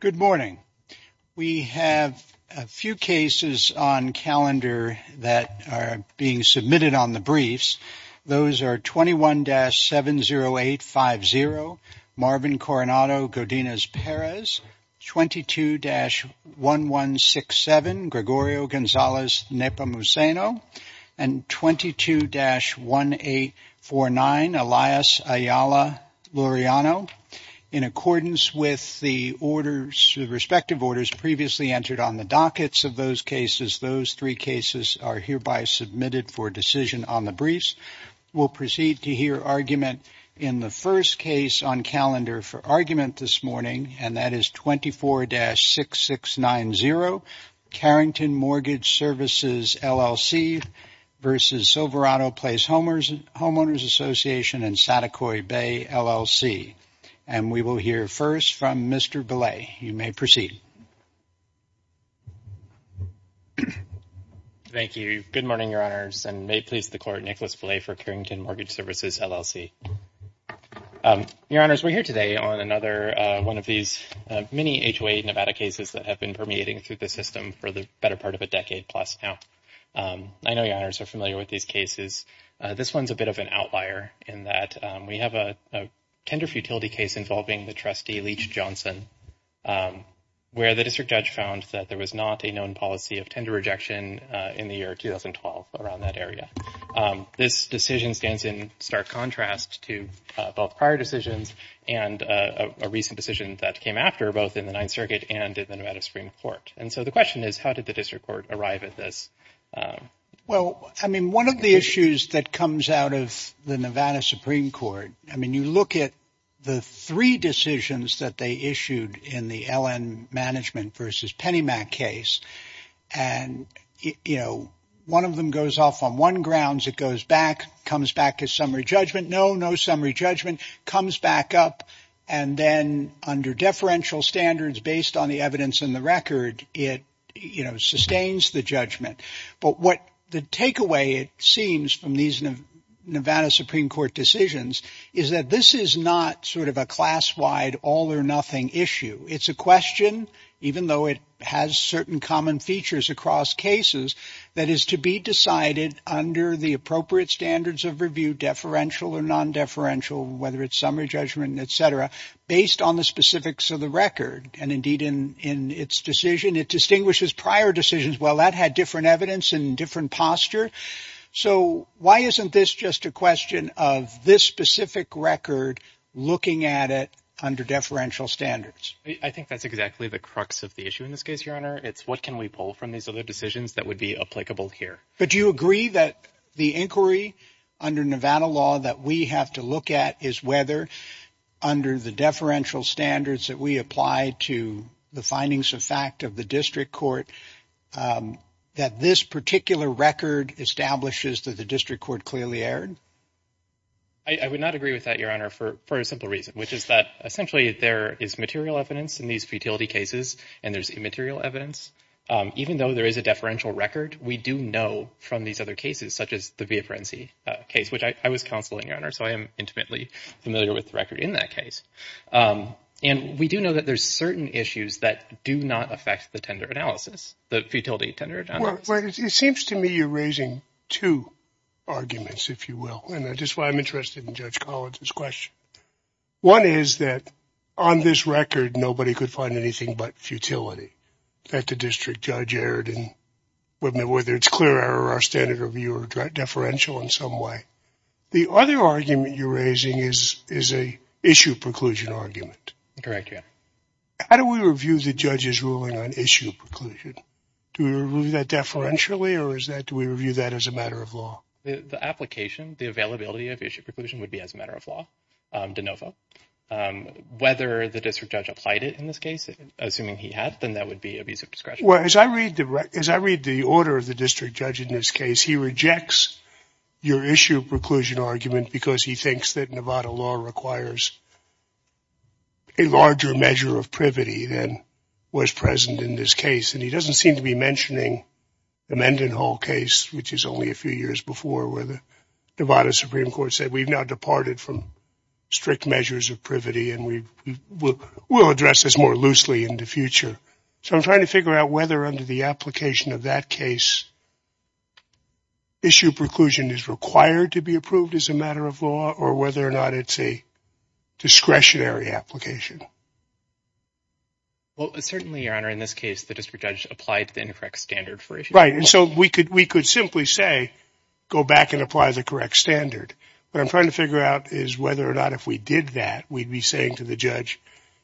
Good morning. We have a few cases on calendar that are being submitted on the briefs. Those are 21-70850 Marvin Coronado Godinez Perez, 22-1167 Gregorio Gonzales Nepomuceno, and 22-1849 Elias Ayala Luriano. In accordance with the respective orders previously entered on the dockets of those cases, those three cases are hereby submitted for decision on the briefs. We'll proceed to hear argument in the first case on calendar for argument this morning, and that is 24-6690 Carrington Mortgage Services, LLC v. Silverado Place Homeowners Association in Saticoy Bay, LLC. And we will hear first from Mr. Belay. You may proceed. Thank you. Good morning, Your Honors, and may it please the Court, Nicholas Belay for Carrington Mortgage Services, LLC. Your Honors, we're here today on another one of these many HOA Nevada cases that have been permeating through the system for the better part of a decade plus now. I know Your Honors are familiar with these cases. This one's a bit of an outlier in that we have a tender futility case involving the trustee Leach Johnson, where the district judge found that there was not a known policy of tender rejection in the year 2012 around that area. This decision stands in stark contrast to both prior decisions and a recent decision that came after both in the Ninth Circuit and in the Nevada Supreme Court. And so the question is, how did the district court arrive at this? Well, I mean, one of the issues that comes out of the Nevada Supreme Court, I mean, you look at the three decisions that they issued in the L.N. Management versus Penny Mac case and, you know, one of them goes off on one grounds. It goes back, comes back to summary judgment. No, no summary judgment comes back up. And then under deferential standards, based on the evidence in the record, it sustains the judgment. But what the takeaway seems from these Nevada Supreme Court decisions is that this is not sort of a class wide all or nothing issue. It's a question, even though it has certain common features across cases, that is to be decided under the appropriate standards of review, deferential or non-deferential, whether it's summary judgment, et cetera, based on the specifics of the record. And indeed, in in its decision, it distinguishes prior decisions. Well, that had different evidence and different posture. So why isn't this just a question of this specific record looking at it under deferential standards? I think that's exactly the crux of the issue in this case. Your Honor, it's what can we pull from these other decisions that would be applicable here? But do you agree that the inquiry under Nevada law that we have to look at is whether under the deferential standards that we apply to the findings of fact of the district court, that this particular record establishes that the district court clearly erred? I would not agree with that, Your Honor, for a simple reason, which is that essentially there is material evidence in these futility cases and there's immaterial evidence. Even though there is a deferential record, we do know from these other cases, such as the via frenzy case, which I was counseling, Your Honor, so I am intimately familiar with the record in that case. And we do know that there's certain issues that do not affect the tender analysis, the futility tender. It seems to me you're raising two arguments, if you will. And that is why I'm interested in Judge Collins's question. One is that on this record, nobody could find anything but futility that the district judge erred. And whether it's clear error or standard review or deferential in some way. The other argument you're raising is a issue preclusion argument. Correct, Your Honor. How do we review the judge's ruling on issue preclusion? Do we review that deferentially or do we review that as a matter of law? The application, the availability of issue preclusion would be as a matter of law, de novo. Whether the district judge applied it in this case, assuming he had, then that would be abuse of discretion. Well, as I read the order of the district judge in this case, he rejects your issue preclusion argument because he thinks that Nevada law requires a larger measure of privity than was present in this case. And he doesn't seem to be mentioning the Mendenhall case, which is only a few years before, where the Nevada Supreme Court said we've now departed from strict measures of privity and we will address this more loosely in the future. So I'm trying to figure out whether under the application of that case, issue preclusion is required to be approved as a matter of law or whether or not it's a discretionary application. Well, certainly, Your Honor, in this case, the district judge applied the incorrect standard. Right. And so we could we could simply say, go back and apply the correct standard. But I'm trying to figure out is whether or not if we did that, we'd be saying to the judge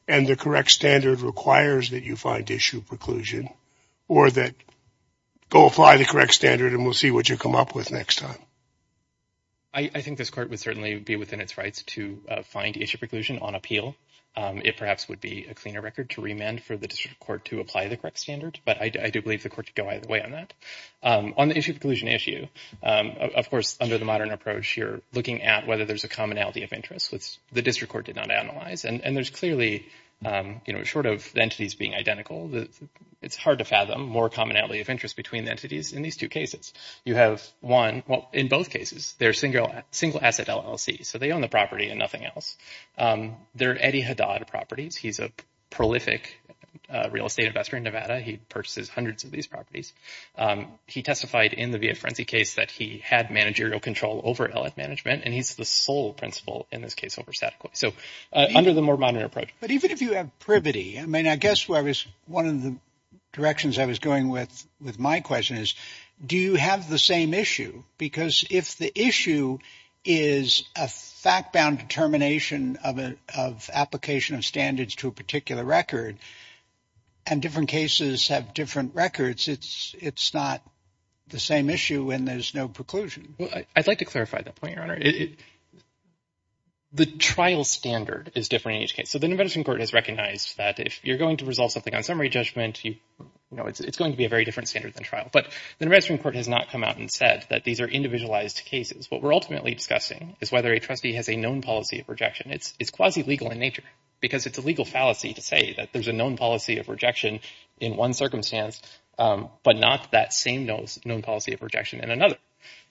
and the correct standard requires that you find issue preclusion or that go apply the correct standard. And we'll see what you come up with next time. I think this court would certainly be within its rights to find issue preclusion on appeal. It perhaps would be a cleaner record to remand for the district court to apply the correct standard. But I do believe the court to go either way on that on the issue of collusion issue. Of course, under the modern approach, you're looking at whether there's a commonality of interest. The district court did not analyze. And there's clearly, you know, short of entities being identical. It's hard to fathom more commonality of interest between entities. In these two cases, you have one. Well, in both cases, they're single single asset LLC. So they own the property and nothing else. They're Eddie Haddad properties. He's a prolific real estate investor in Nevada. He purchases hundreds of these properties. He testified in the via frenzy case that he had managerial control over management. And he's the sole principal in this case over statically. So under the more modern approach. But even if you have privity, I mean, I guess where is one of the directions I was going with with my question is, do you have the same issue? Because if the issue is a fact bound determination of an application of standards to a particular record, and different cases have different records, it's it's not the same issue when there's no preclusion. Well, I'd like to clarify that point. The trial standard is different. So the medicine court has recognized that if you're going to resolve something on summary judgment, you know, it's going to be a very different standard than trial. But the medicine court has not come out and said that these are individualized cases. What we're ultimately discussing is whether a trustee has a known policy of rejection. It's it's quasi legal in nature because it's a legal fallacy to say that there's a known policy of rejection in one circumstance, but not that same knows known policy of rejection in another.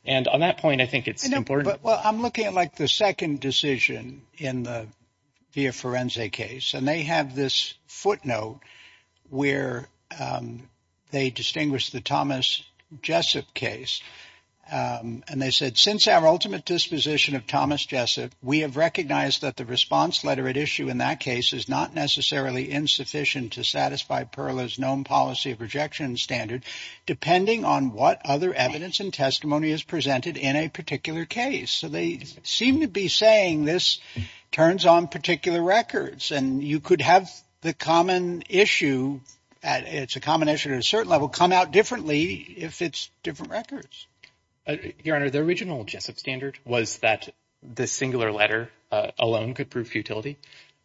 And on that point, I think it's important. But I'm looking at, like, the second decision in the via forensic case, and they have this footnote where they distinguish the Thomas Jessup case. And they said, since our ultimate disposition of Thomas Jessup, we have recognized that the response letter at issue in that case is not necessarily insufficient to satisfy Perla's known policy of rejection standard, depending on what other evidence and testimony is presented in a particular case. So they seem to be saying this turns on particular records and you could have the common issue. It's a combination of a certain level come out differently if it's different records. Your Honor, the original Jessup standard was that the singular letter alone could prove futility.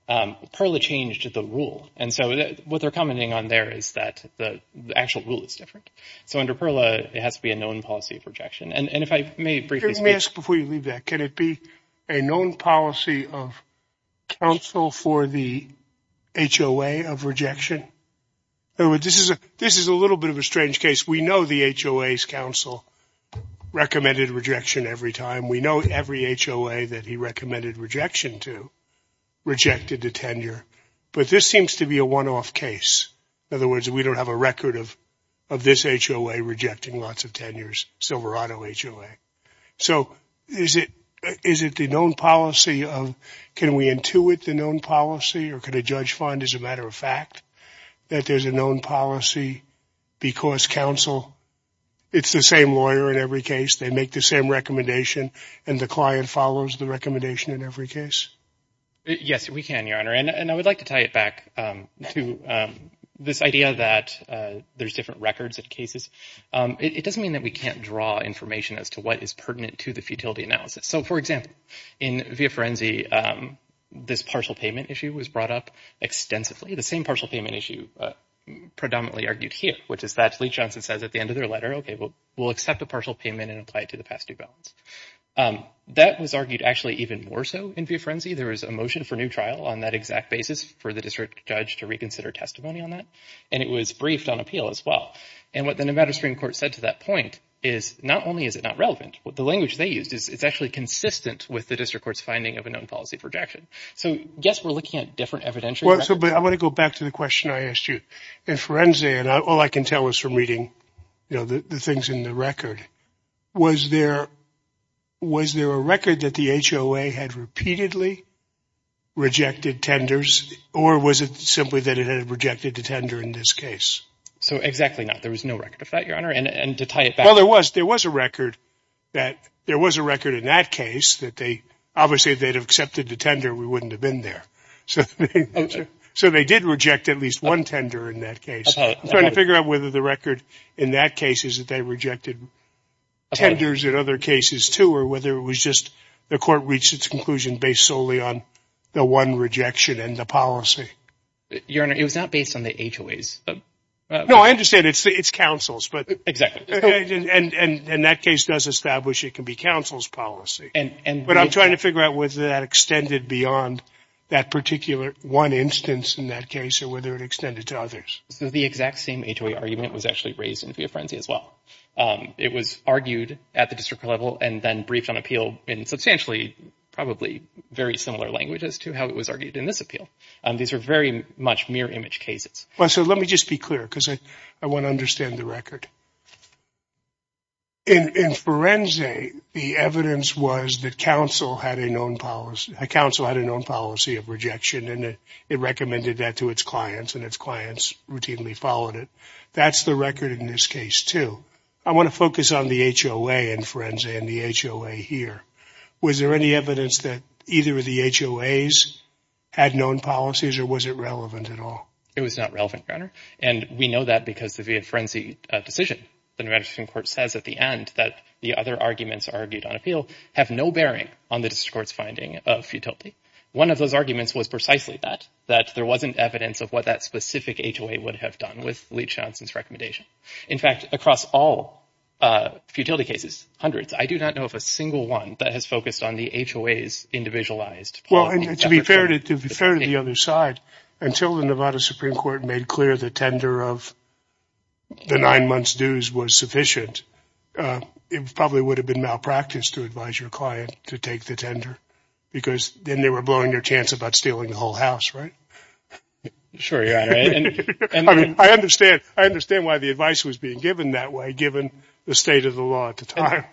Perla changed the rule. And so what they're commenting on there is that the actual rule is different. So under Perla, it has to be a known policy of rejection. And if I may briefly ask before you leave that, can it be a known policy of counsel for the H.O.A. of rejection? This is a this is a little bit of a strange case. We know the H.O.A.'s counsel recommended rejection every time. We know every H.O.A. that he recommended rejection to rejected the tenure. But this seems to be a one off case. In other words, we don't have a record of of this H.O.A. rejecting lots of tenures. Silverado H.O.A. So is it is it the known policy of can we intuit the known policy or could a judge find, as a matter of fact, that there's a known policy because counsel it's the same lawyer in every case. They make the same recommendation and the client follows the recommendation in every case. Yes, we can, Your Honor. And I would like to tie it back to this idea that there's different records and cases. It doesn't mean that we can't draw information as to what is pertinent to the futility analysis. So, for example, in the frenzy, this partial payment issue was brought up extensively. The same partial payment issue predominantly argued here, which is that Lee Johnson says at the end of their letter, OK, well, we'll accept a partial payment and apply it to the past due balance. That was argued actually even more so in the frenzy. There is a motion for new trial on that exact basis for the district judge to reconsider testimony on that. And it was briefed on appeal as well. And what the Nevada Supreme Court said to that point is not only is it not relevant, but the language they used is it's actually consistent with the district court's finding of a known policy of rejection. So, yes, we're looking at different evidential. But I want to go back to the question I asked you in frenzy. And all I can tell us from reading the things in the record was there was there a record that the H.O.A. had repeatedly rejected tenders or was it simply that it had rejected the tender in this case? So exactly not. There was no record of that, Your Honor. And to tie it back. Well, there was there was a record that there was a record in that case that they obviously they'd have accepted the tender. We wouldn't have been there. So so they did reject at least one tender in that case. I'm trying to figure out whether the record in that case is that they rejected tenders in other cases, too, or whether it was just the court reached its conclusion based solely on the one rejection and the policy. Your Honor, it was not based on the H.O.A.'s. No, I understand. It's the it's counsel's. But exactly. And that case does establish it can be counsel's policy. And what I'm trying to figure out was that extended beyond that particular one instance in that case or whether it extended to others. So the exact same H.O.A. argument was actually raised in a frenzy as well. It was argued at the district level and then briefed on appeal in substantially, probably very similar language as to how it was argued in this appeal. These are very much mere image cases. So let me just be clear, because I want to understand the record. In forensic, the evidence was that counsel had a known policy, a counsel had a known policy of rejection, and it recommended that to its clients and its clients routinely followed it. That's the record in this case, too. I want to focus on the H.O.A. and friends and the H.O.A. here. Was there any evidence that either of the H.O.A.'s had known policies or was it relevant at all? It was not relevant, Your Honor. And we know that because of the frenzy decision. The Nevada Supreme Court says at the end that the other arguments argued on appeal have no bearing on the district court's finding of futility. One of those arguments was precisely that, that there wasn't evidence of what that specific H.O.A. would have done with Lee Johnson's recommendation. In fact, across all futility cases, hundreds, I do not know of a single one that has focused on the H.O.A.'s individualized. Well, to be fair to the other side, until the Nevada Supreme Court made clear the tender of the nine months dues was sufficient, it probably would have been malpractice to advise your client to take the tender because then they were blowing their chance about stealing the whole house. Right. Sure. Yeah. And I understand. I understand why the advice was being given that way, given the state of the law at the time.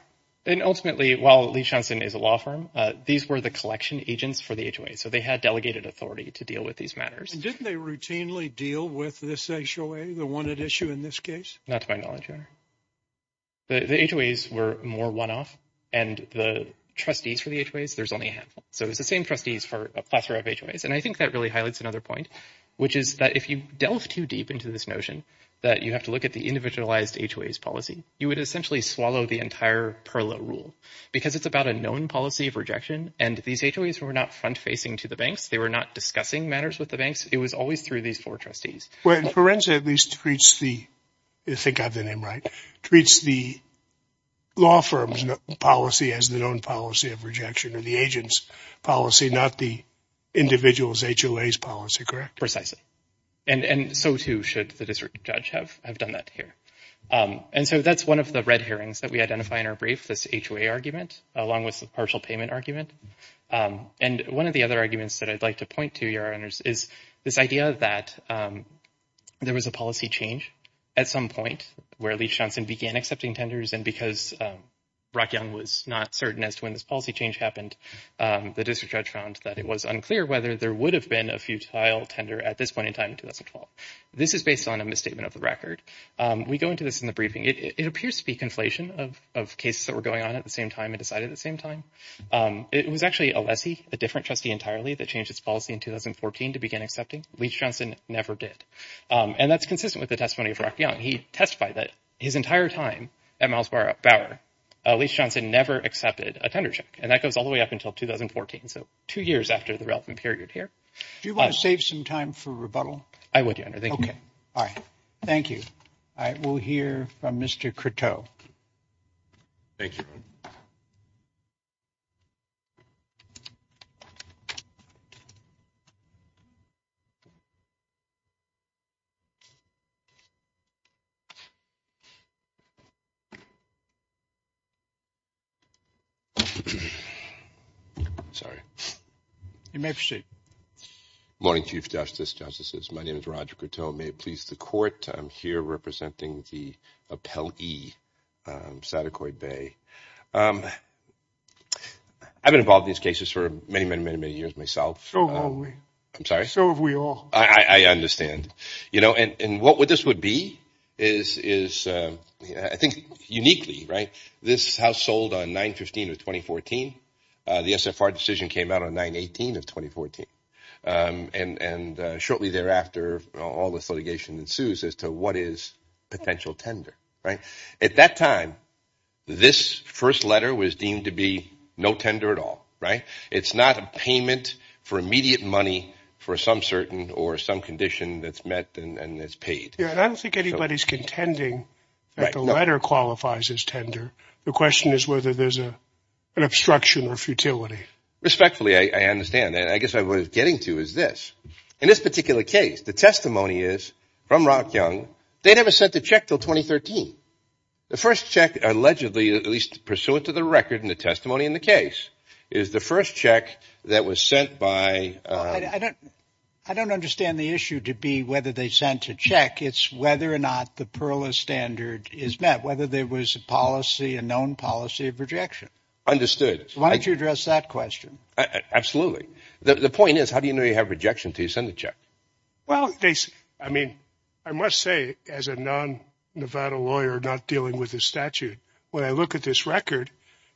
And ultimately, while Lee Johnson is a law firm, these were the collection agents for the H.O.A. So they had delegated authority to deal with these matters. Didn't they routinely deal with this issue, the one at issue in this case? Not to my knowledge, Your Honor. The H.O.A.'s were more one off and the trustees for the H.O.A.'s, there's only a handful. So it's the same trustees for a plethora of H.O.A.'s. And I think that really highlights another point, which is that if you delve too deep into this notion that you have to look at the individualized H.O.A.'s policy, you would essentially swallow the entire Perla rule because it's about a known policy of rejection. And these H.O.A.'s were not front facing to the banks. They were not discussing matters with the banks. It was always through these four trustees. Well, Forensic at least treats the think of the name, right? Treats the law firm's policy as their own policy of rejection of the agent's policy, not the individual's H.O.A.'s policy, correct? Precisely. And so, too, should the district judge have have done that here. And so that's one of the red herrings that we identify in our brief, this H.O.A. argument, along with the partial payment argument. And one of the other arguments that I'd like to point to, Your Honors, is this idea that there was a policy change at some point where Lee Johnson began accepting tenders. And because Brock Young was not certain as to when this policy change happened, the district judge found that it was unclear whether there would have been a futile tender at this point in time in 2012. This is based on a misstatement of the record. We go into this in the briefing. It appears to be conflation of cases that were going on at the same time and decided at the same time. It was actually a lessee, a different trustee entirely, that changed its policy in 2014 to begin accepting. Lee Johnson never did. And that's consistent with the testimony of Brock Young. He testified that his entire time at Miles Bauer, Lee Johnson never accepted a tender check. And that goes all the way up until 2014. So two years after the relevant period here. Do you want to save some time for rebuttal? I would, Your Honor. Thank you. OK. All right. Thank you. I will hear from Mr. Coteau. Thank you. Sorry. You may proceed. Morning, Chief Justice, Justices. My name is Roger Coteau. May it please the court. I'm here representing the appellee, Sadakoid Bay. I've been involved in these cases for many, many, many, many years myself. So have we. I'm sorry. So have we all. I understand. You know, and what this would be is, I think, uniquely, right, this house sold on 9-15 of 2014. The SFR decision came out on 9-18 of 2014. And shortly thereafter, all this litigation ensues as to what is potential tender. Right. At that time, this first letter was deemed to be no tender at all. Right. It's not a payment for immediate money for some certain or some condition that's met and it's paid. I don't think anybody's contending that the letter qualifies as tender. The question is whether there's an obstruction or futility. Respectfully, I understand that. I guess I was getting to is this. In this particular case, the testimony is from Rock Young. They never sent a check till 2013. The first check allegedly, at least pursuant to the record in the testimony in the case, is the first check that was sent by. I don't understand the issue to be whether they sent a check. It's whether or not the Perla standard is met, whether there was a policy, a known policy of rejection. Understood. Why don't you address that question? Absolutely. The point is, how do you know you have rejection until you send the check? Well, I mean, I must say as a non-Nevada lawyer not dealing with the statute, when I look at this record,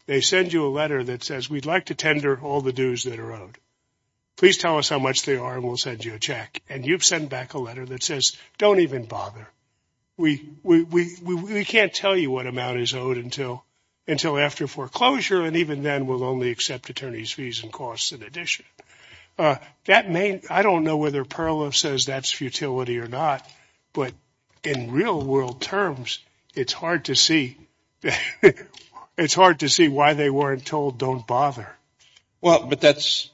they send you a letter that says, we'd like to tender all the dues that are owed. Please tell us how much they are and we'll send you a check. And you've sent back a letter that says, don't even bother. We can't tell you what amount is owed until after foreclosure, and even then we'll only accept attorney's fees and costs in addition. I don't know whether Perla says that's futility or not, but in real world terms, it's hard to see why they weren't told, don't bother. Well, but that's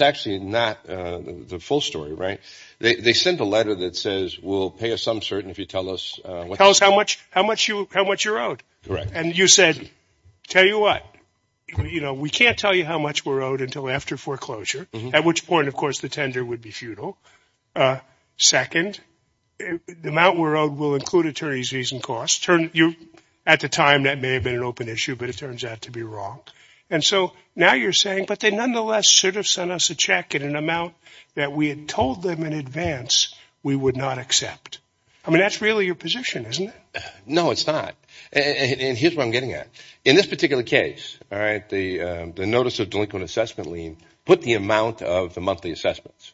actually not the full story, right? They sent a letter that says, we'll pay a sum certain if you tell us. Tell us how much you're owed. Correct. And you said, tell you what, we can't tell you how much we're owed until after foreclosure, at which point, of course, the tender would be futile. Second, the amount we're owed will include attorney's fees and costs. At the time, that may have been an open issue, but it turns out to be wrong. And so now you're saying, but they nonetheless should have sent us a check at an amount that we had told them in advance we would not accept. I mean, that's really your position, isn't it? No, it's not. And here's where I'm getting at. In this particular case, the notice of delinquent assessment lien put the amount of the monthly assessments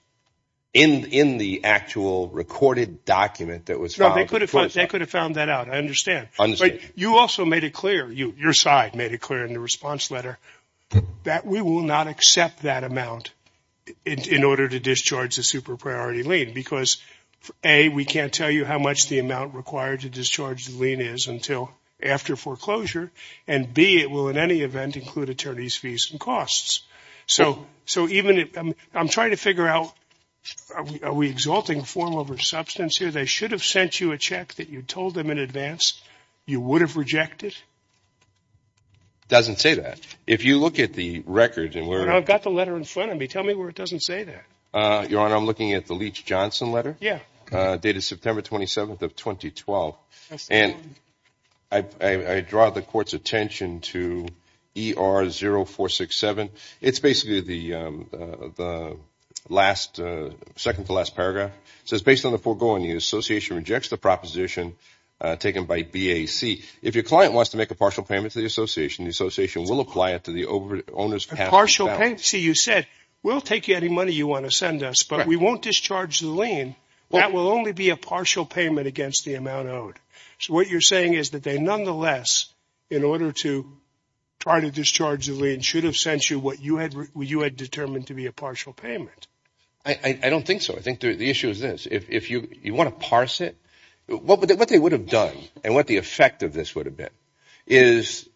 in the actual recorded document that was filed. No, they could have found that out. I understand. But you also made it clear, your side made it clear in the response letter, that we will not accept that amount in order to discharge the super priority lien because, A, we can't tell you how much the amount required to discharge the lien is until after foreclosure, and, B, it will in any event include attorney's fees and costs. So I'm trying to figure out, are we exalting form over substance here? They should have sent you a check that you told them in advance you would have rejected? It doesn't say that. If you look at the record and where it is. I've got the letter in front of me. Tell me where it doesn't say that. Your Honor, I'm looking at the Leach-Johnson letter. Yeah. Dated September 27th of 2012. And I draw the Court's attention to ER 0467. It's basically the second to last paragraph. It says, based on the foregoing, the association rejects the proposition taken by BAC. If your client wants to make a partial payment to the association, the association will apply it to the owner's past account. See, you said, we'll take any money you want to send us, but we won't discharge the lien. That will only be a partial payment against the amount owed. So what you're saying is that they nonetheless, in order to try to discharge the lien, should have sent you what you had determined to be a partial payment. I don't think so. I think the issue is this. If you want to parse it, what they would have done and what the effect of this would have been is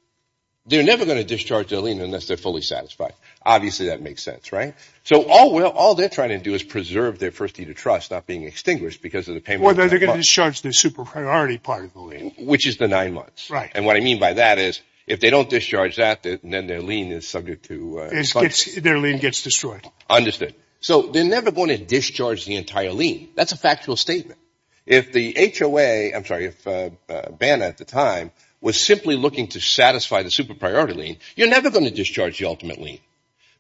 they're never going to discharge their lien unless they're fully satisfied. Obviously, that makes sense, right? So all they're trying to do is preserve their first deed of trust not being extinguished because of the payment. Well, they're going to discharge the super priority part of the lien. Which is the nine months. Right. And what I mean by that is if they don't discharge that, then their lien is subject to – Their lien gets destroyed. Understood. So they're never going to discharge the entire lien. That's a factual statement. If the HOA – I'm sorry, if BANA at the time was simply looking to satisfy the super priority lien, you're never going to discharge the ultimate lien.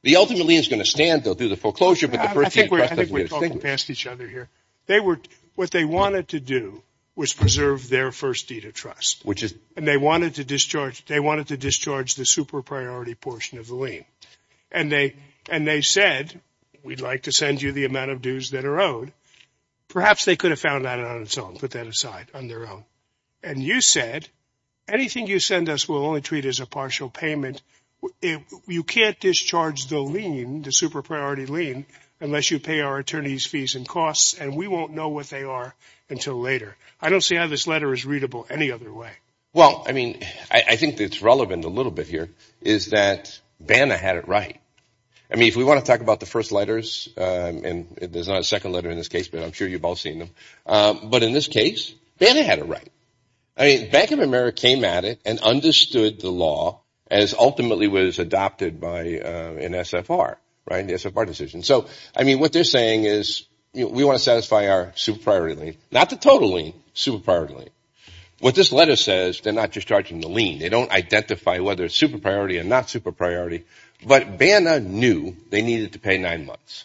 The ultimate lien is going to stand though through the foreclosure. I think we're talking past each other here. What they wanted to do was preserve their first deed of trust. And they wanted to discharge the super priority portion of the lien. And they said, we'd like to send you the amount of dues that are owed. Perhaps they could have found that on its own, put that aside, on their own. And you said, anything you send us we'll only treat as a partial payment. You can't discharge the lien, the super priority lien, unless you pay our attorneys' fees and costs. And we won't know what they are until later. I don't see how this letter is readable any other way. Well, I mean, I think it's relevant a little bit here is that BANA had it right. I mean, if we want to talk about the first letters, and there's not a second letter in this case, but I'm sure you've all seen them. But in this case, BANA had it right. I mean, Bank of America came at it and understood the law as ultimately was adopted by an SFR, right, the SFR decision. So, I mean, what they're saying is we want to satisfy our super priority lien, not the total lien, super priority lien. What this letter says, they're not discharging the lien. They don't identify whether it's super priority or not super priority. But BANA knew they needed to pay nine months,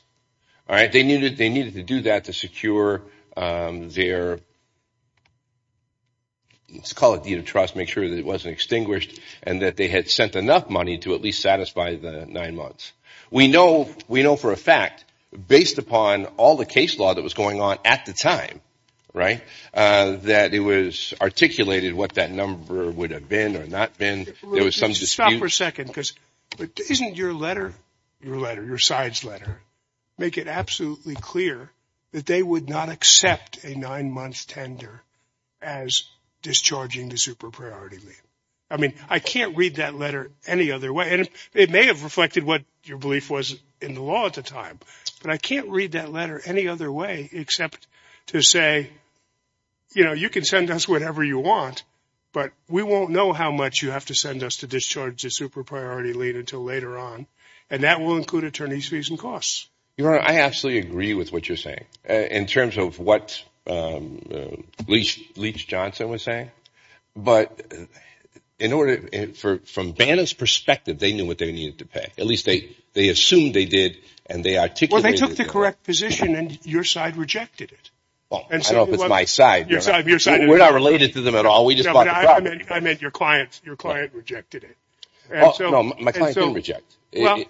all right? They needed to do that to secure their, let's call it deed of trust, make sure that it wasn't extinguished, and that they had sent enough money to at least satisfy the nine months. We know for a fact, based upon all the case law that was going on at the time, right, that it was articulated what that number would have been or not been. There was some dispute. Stop for a second, because isn't your letter, your letter, your side's letter, make it absolutely clear that they would not accept a nine-month tender as discharging the super priority lien? I mean, I can't read that letter any other way. And it may have reflected what your belief was in the law at the time, but I can't read that letter any other way except to say, you know, you can send us whatever you want, but we won't know how much you have to send us to discharge the super priority lien until later on, and that will include attorney's fees and costs. Your Honor, I absolutely agree with what you're saying in terms of what Leach Johnson was saying. But in order, from BANA's perspective, they knew what they needed to pay. At least they assumed they did, and they articulated it. Well, they took the correct position, and your side rejected it. Well, I don't know if it's my side. Your side. We're not related to them at all. I meant your client. Your client rejected it. No, my client didn't reject it. Well,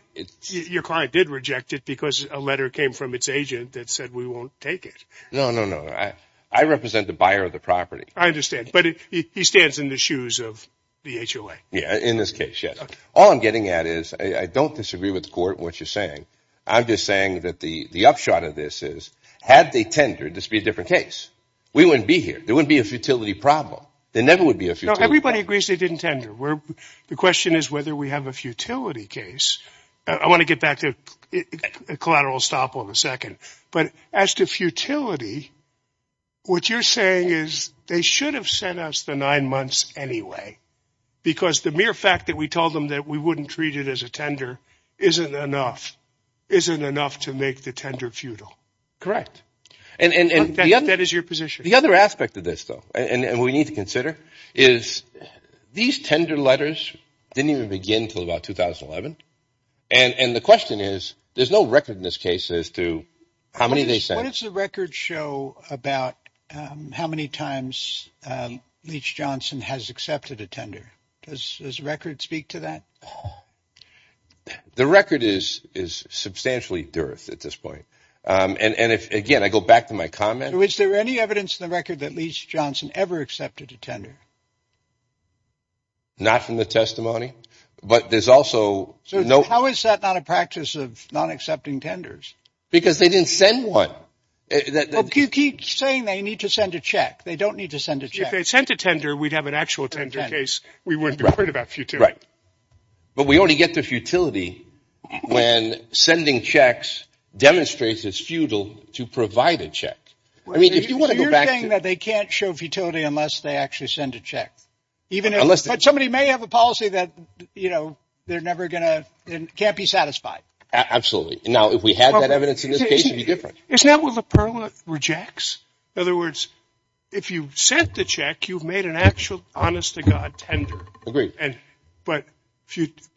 your client did reject it because a letter came from its agent that said we won't take it. No, no, no. I represent the buyer of the property. I understand. But he stands in the shoes of the HOA. Yeah, in this case, yes. All I'm getting at is I don't disagree with the court in what you're saying. I'm just saying that the upshot of this is had they tendered, this would be a different case. We wouldn't be here. There wouldn't be a futility problem. There never would be a futility problem. No, everybody agrees they didn't tender. The question is whether we have a futility case. I want to get back to collateral estoppel in a second. But as to futility, what you're saying is they should have sent us the nine months anyway because the mere fact that we told them that we wouldn't treat it as a tender isn't enough. Isn't enough to make the tender futile. Correct. And that is your position. The other aspect of this, though, and we need to consider is these tender letters didn't even begin until about 2011. And the question is, there's no record in this case as to how many they sent. What does the record show about how many times Leach-Johnson has accepted a tender? Does the record speak to that? The record is substantially dearth at this point. And, again, I go back to my comment. Was there any evidence in the record that Leach-Johnson ever accepted a tender? Not from the testimony, but there's also. How is that not a practice of not accepting tenders? Because they didn't send one. Well, you keep saying they need to send a check. They don't need to send a check. If they sent a tender, we'd have an actual tender case. We wouldn't have heard about futility. Right. But we already get the futility when sending checks demonstrates it's futile to provide a check. I mean, if you want to go back to. So you're saying that they can't show futility unless they actually send a check. Even if. But somebody may have a policy that, you know, they're never going to. Can't be satisfied. Absolutely. Now, if we had that evidence in this case, it would be different. Isn't that what LaPerla rejects? In other words, if you sent the check, you've made an actual honest-to-God tender. Agreed. But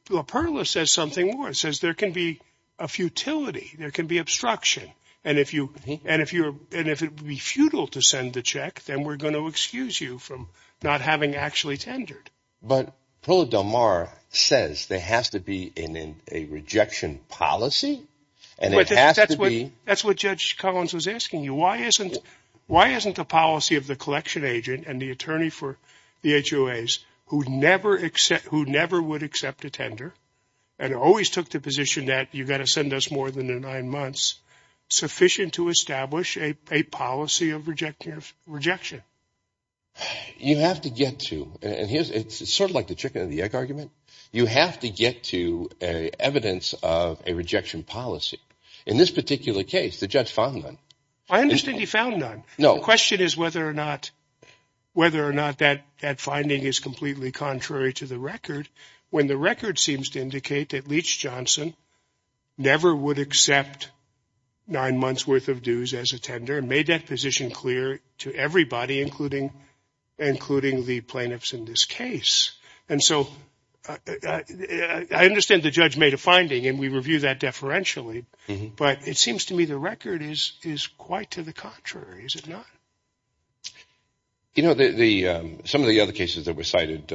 LaPerla says something more. It says there can be a futility. There can be obstruction. And if it would be futile to send the check, then we're going to excuse you from not having actually tendered. But Perla Del Mar says there has to be a rejection policy. And it has to be. That's what Judge Collins was asking you. Why isn't the policy of the collection agent and the attorney for the HOAs who never would accept a tender and always took the position that you've got to send us more than nine months sufficient to establish a policy of rejection? You have to get to. And it's sort of like the chicken-and-the-egg argument. You have to get to evidence of a rejection policy. In this particular case, the judge found none. I understand he found none. No. The question is whether or not that finding is completely contrary to the record, when the record seems to indicate that Leach Johnson never would accept nine months' worth of dues as a tender and made that position clear to everybody, including the plaintiffs in this case. And so I understand the judge made a finding, and we review that deferentially. But it seems to me the record is quite to the contrary, is it not? You know, some of the other cases that were cited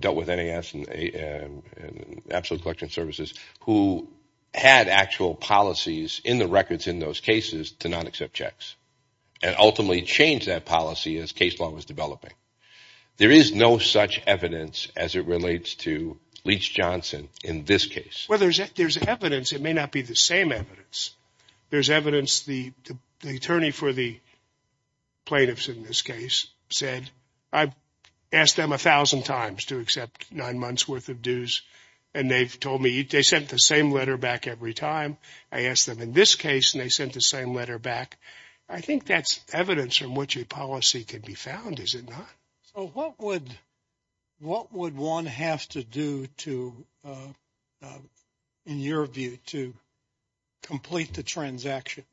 dealt with NAS and absolute collection services who had actual policies in the records in those cases to not accept checks and ultimately changed that policy as case law was developing. There is no such evidence as it relates to Leach Johnson in this case. Well, there's evidence. It may not be the same evidence. There's evidence the attorney for the plaintiffs in this case said, I've asked them a thousand times to accept nine months' worth of dues, and they've told me they sent the same letter back every time. I asked them in this case, and they sent the same letter back. I think that's evidence from which a policy could be found, is it not? So what would one have to do to, in your view, to complete the transaction?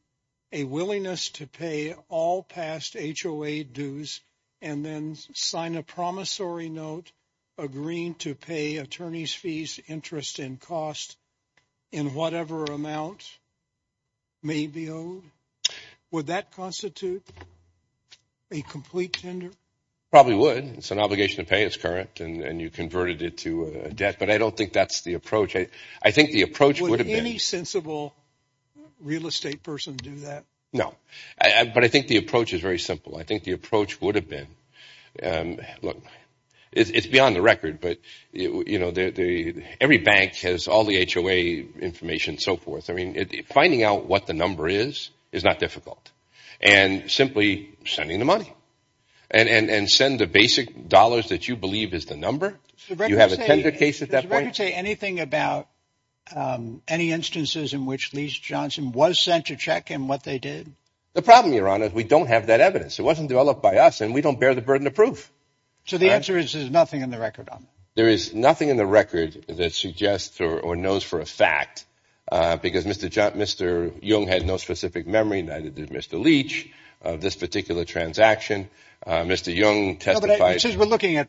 A willingness to pay all past HOA dues and then sign a promissory note agreeing to pay attorneys' fees, interest, and cost in whatever amount may be owed? Would that constitute a complete tender? Probably would. It's an obligation to pay. It's current, and you converted it to debt. But I don't think that's the approach. Would any sensible real estate person do that? But I think the approach is very simple. I think the approach would have been, look, it's beyond the record, but every bank has all the HOA information and so forth. I mean, finding out what the number is is not difficult, and simply sending the money. And send the basic dollars that you believe is the number. You have a tender case at that point. Would you say anything about any instances in which Leach Johnson was sent to check and what they did? The problem, Your Honor, is we don't have that evidence. It wasn't developed by us, and we don't bear the burden of proof. So the answer is there's nothing in the record on it? There is nothing in the record that suggests or knows for a fact, because Mr. Young had no specific memory, neither did Mr. Leach, of this particular transaction. Mr. Young testified. Well, but since we're looking at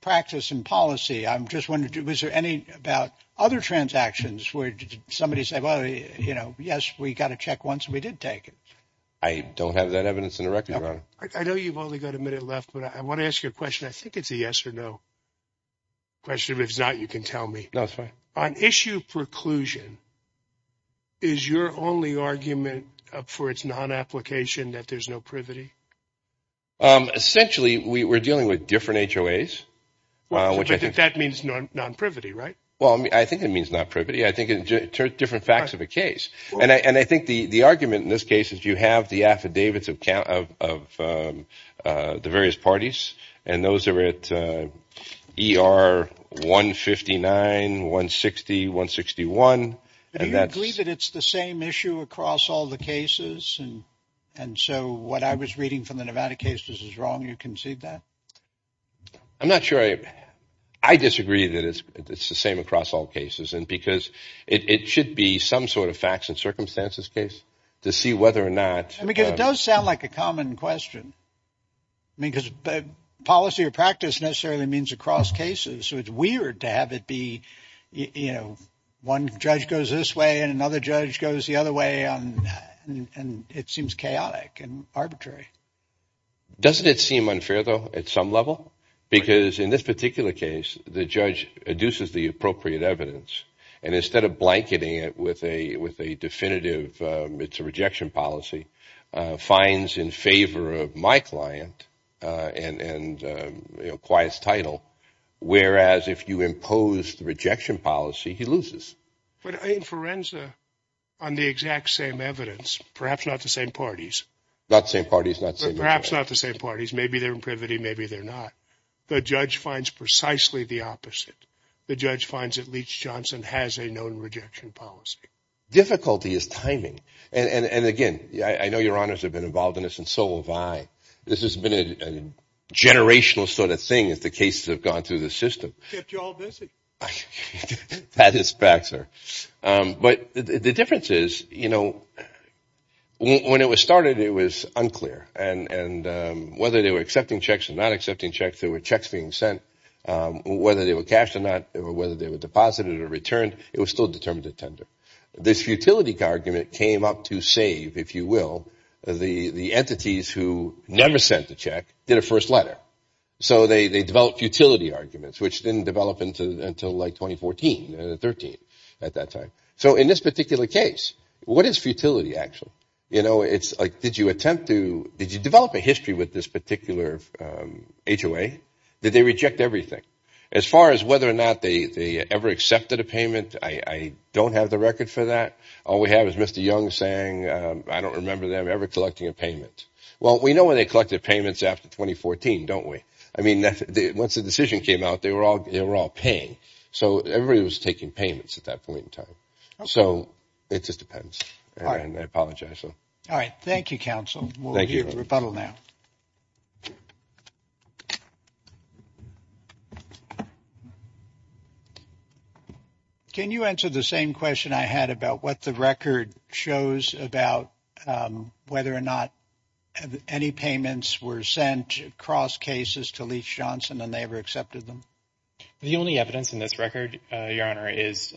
practice and policy, I'm just wondering, was there any about other transactions where somebody said, well, you know, yes, we got a check once and we did take it? I don't have that evidence in the record, Your Honor. I know you've only got a minute left, but I want to ask you a question. I think it's a yes or no question. If it's not, you can tell me. No, it's fine. On issue preclusion, is your only argument for its non-application that there's no privity? Essentially, we were dealing with different HOAs, which I think that means non-privity, right? Well, I think it means not privity. I think it's different facts of a case. And I think the argument in this case is you have the affidavits of count of the various parties. And those are at E.R. 159, 160, 161. Do you agree that it's the same issue across all the cases? And so what I was reading from the Nevada case, this is wrong. You concede that? I'm not sure. I disagree that it's the same across all cases. And because it should be some sort of facts and circumstances case to see whether or not. I mean, it does sound like a common question because policy or practice necessarily means across cases. So it's weird to have it be, you know, one judge goes this way and another judge goes the other way. And it seems chaotic and arbitrary. Doesn't it seem unfair, though, at some level? Because in this particular case, the judge adduces the appropriate evidence. And instead of blanketing it with a definitive, it's a rejection policy, finds in favor of my client and acquires title. Whereas if you impose the rejection policy, he loses. But in forensic, on the exact same evidence, perhaps not the same parties. Not the same parties, not the same. Perhaps not the same parties. Maybe they're in privity. Maybe they're not. The judge finds precisely the opposite. The judge finds at least Johnson has a known rejection policy. Difficulty is timing. And, again, I know your honors have been involved in this and so have I. This has been a generational sort of thing as the cases have gone through the system. Kept you all busy. That is fact, sir. But the difference is, you know, when it was started, it was unclear. And whether they were accepting checks or not accepting checks, there were checks being sent. Whether they were cashed or not, whether they were deposited or returned, it was still determined to tender. This futility argument came up to save, if you will, the entities who never sent a check, did a first letter. So they developed futility arguments, which didn't develop until like 2014, 2013 at that time. So in this particular case, what is futility, actually? You know, it's like did you attempt to – did you develop a history with this particular HOA? Did they reject everything? As far as whether or not they ever accepted a payment, I don't have the record for that. All we have is Mr. Young saying, I don't remember them ever collecting a payment. Well, we know when they collected payments after 2014, don't we? I mean, once the decision came out, they were all paying. So everybody was taking payments at that point in time. So it just depends. And I apologize. All right. Thank you, counsel. We'll hear the rebuttal now. Can you answer the same question I had about what the record shows about whether or not any payments were sent across cases to Leach-Johnson and they ever accepted them? The only evidence in this record, Your Honor, is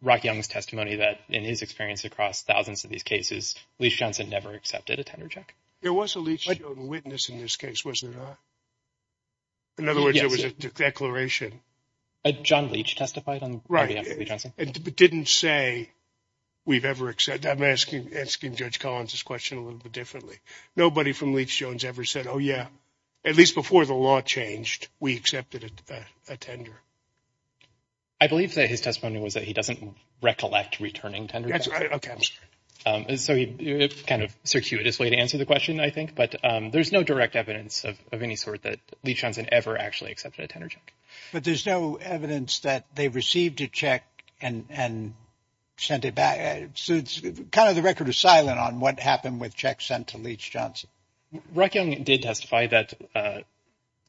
Rock Young's testimony that in his experience across thousands of these cases, Leach-Johnson never accepted a tender check. There was a Leach-Johnson witness in this case, was there not? In other words, there was a declaration. John Leach testified on behalf of Leach-Johnson? It didn't say we've ever accepted. I'm asking Judge Collins' question a little bit differently. Nobody from Leach-Jones ever said, oh, yeah, at least before the law changed, we accepted a tender. I believe that his testimony was that he doesn't recollect returning tenders. That's right. Okay. So it's kind of a circuitous way to answer the question, I think. But there's no direct evidence of any sort that Leach-Johnson ever actually accepted a tender check. But there's no evidence that they received a check and sent it back. So it's kind of the record is silent on what happened with checks sent to Leach-Johnson. Rock Young did testify that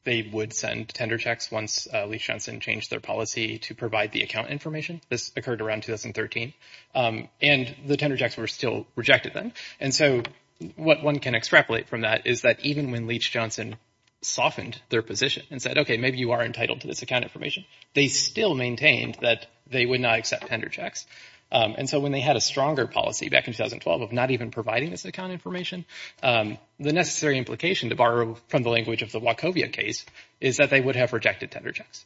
they would send tender checks once Leach-Johnson changed their policy to provide the account information. This occurred around 2013. And the tender checks were still rejected then. And so what one can extrapolate from that is that even when Leach-Johnson softened their position and said, okay, maybe you are entitled to this account information, they still maintained that they would not accept tender checks. And so when they had a stronger policy back in 2012 of not even providing this account information, the necessary implication, to borrow from the language of the Wachovia case, is that they would have rejected tender checks.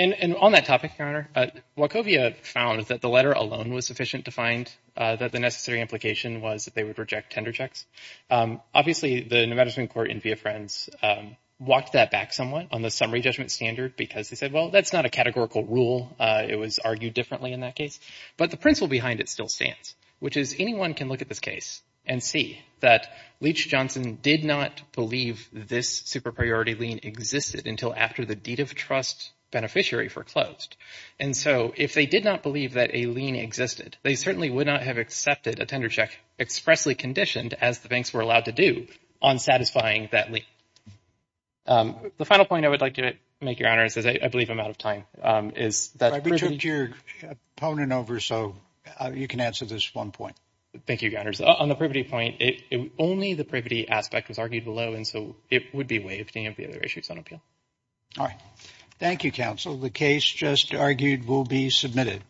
And on that topic, Your Honor, Wachovia found that the letter alone was sufficient to find that the necessary implication was that they would reject tender checks. Obviously, the New Medicine Court in Via Friends walked that back somewhat on the summary judgment standard because they said, well, that's not a categorical rule. It was argued differently in that case. But the principle behind it still stands, which is anyone can look at this case and see that Leach-Johnson did not believe this super priority lien existed until after the deed of trust beneficiary foreclosed. And so if they did not believe that a lien existed, they certainly would not have accepted a tender check expressly conditioned, as the banks were allowed to do, on satisfying that lien. The final point I would like to make, Your Honor, is that I believe I'm out of time. We took your opponent over, so you can answer this one point. Thank you, Your Honor. On the privity point, only the privity aspect was argued below, and so it would be waived. Any other issues on appeal? All right. Thank you, counsel. The case just argued will be submitted.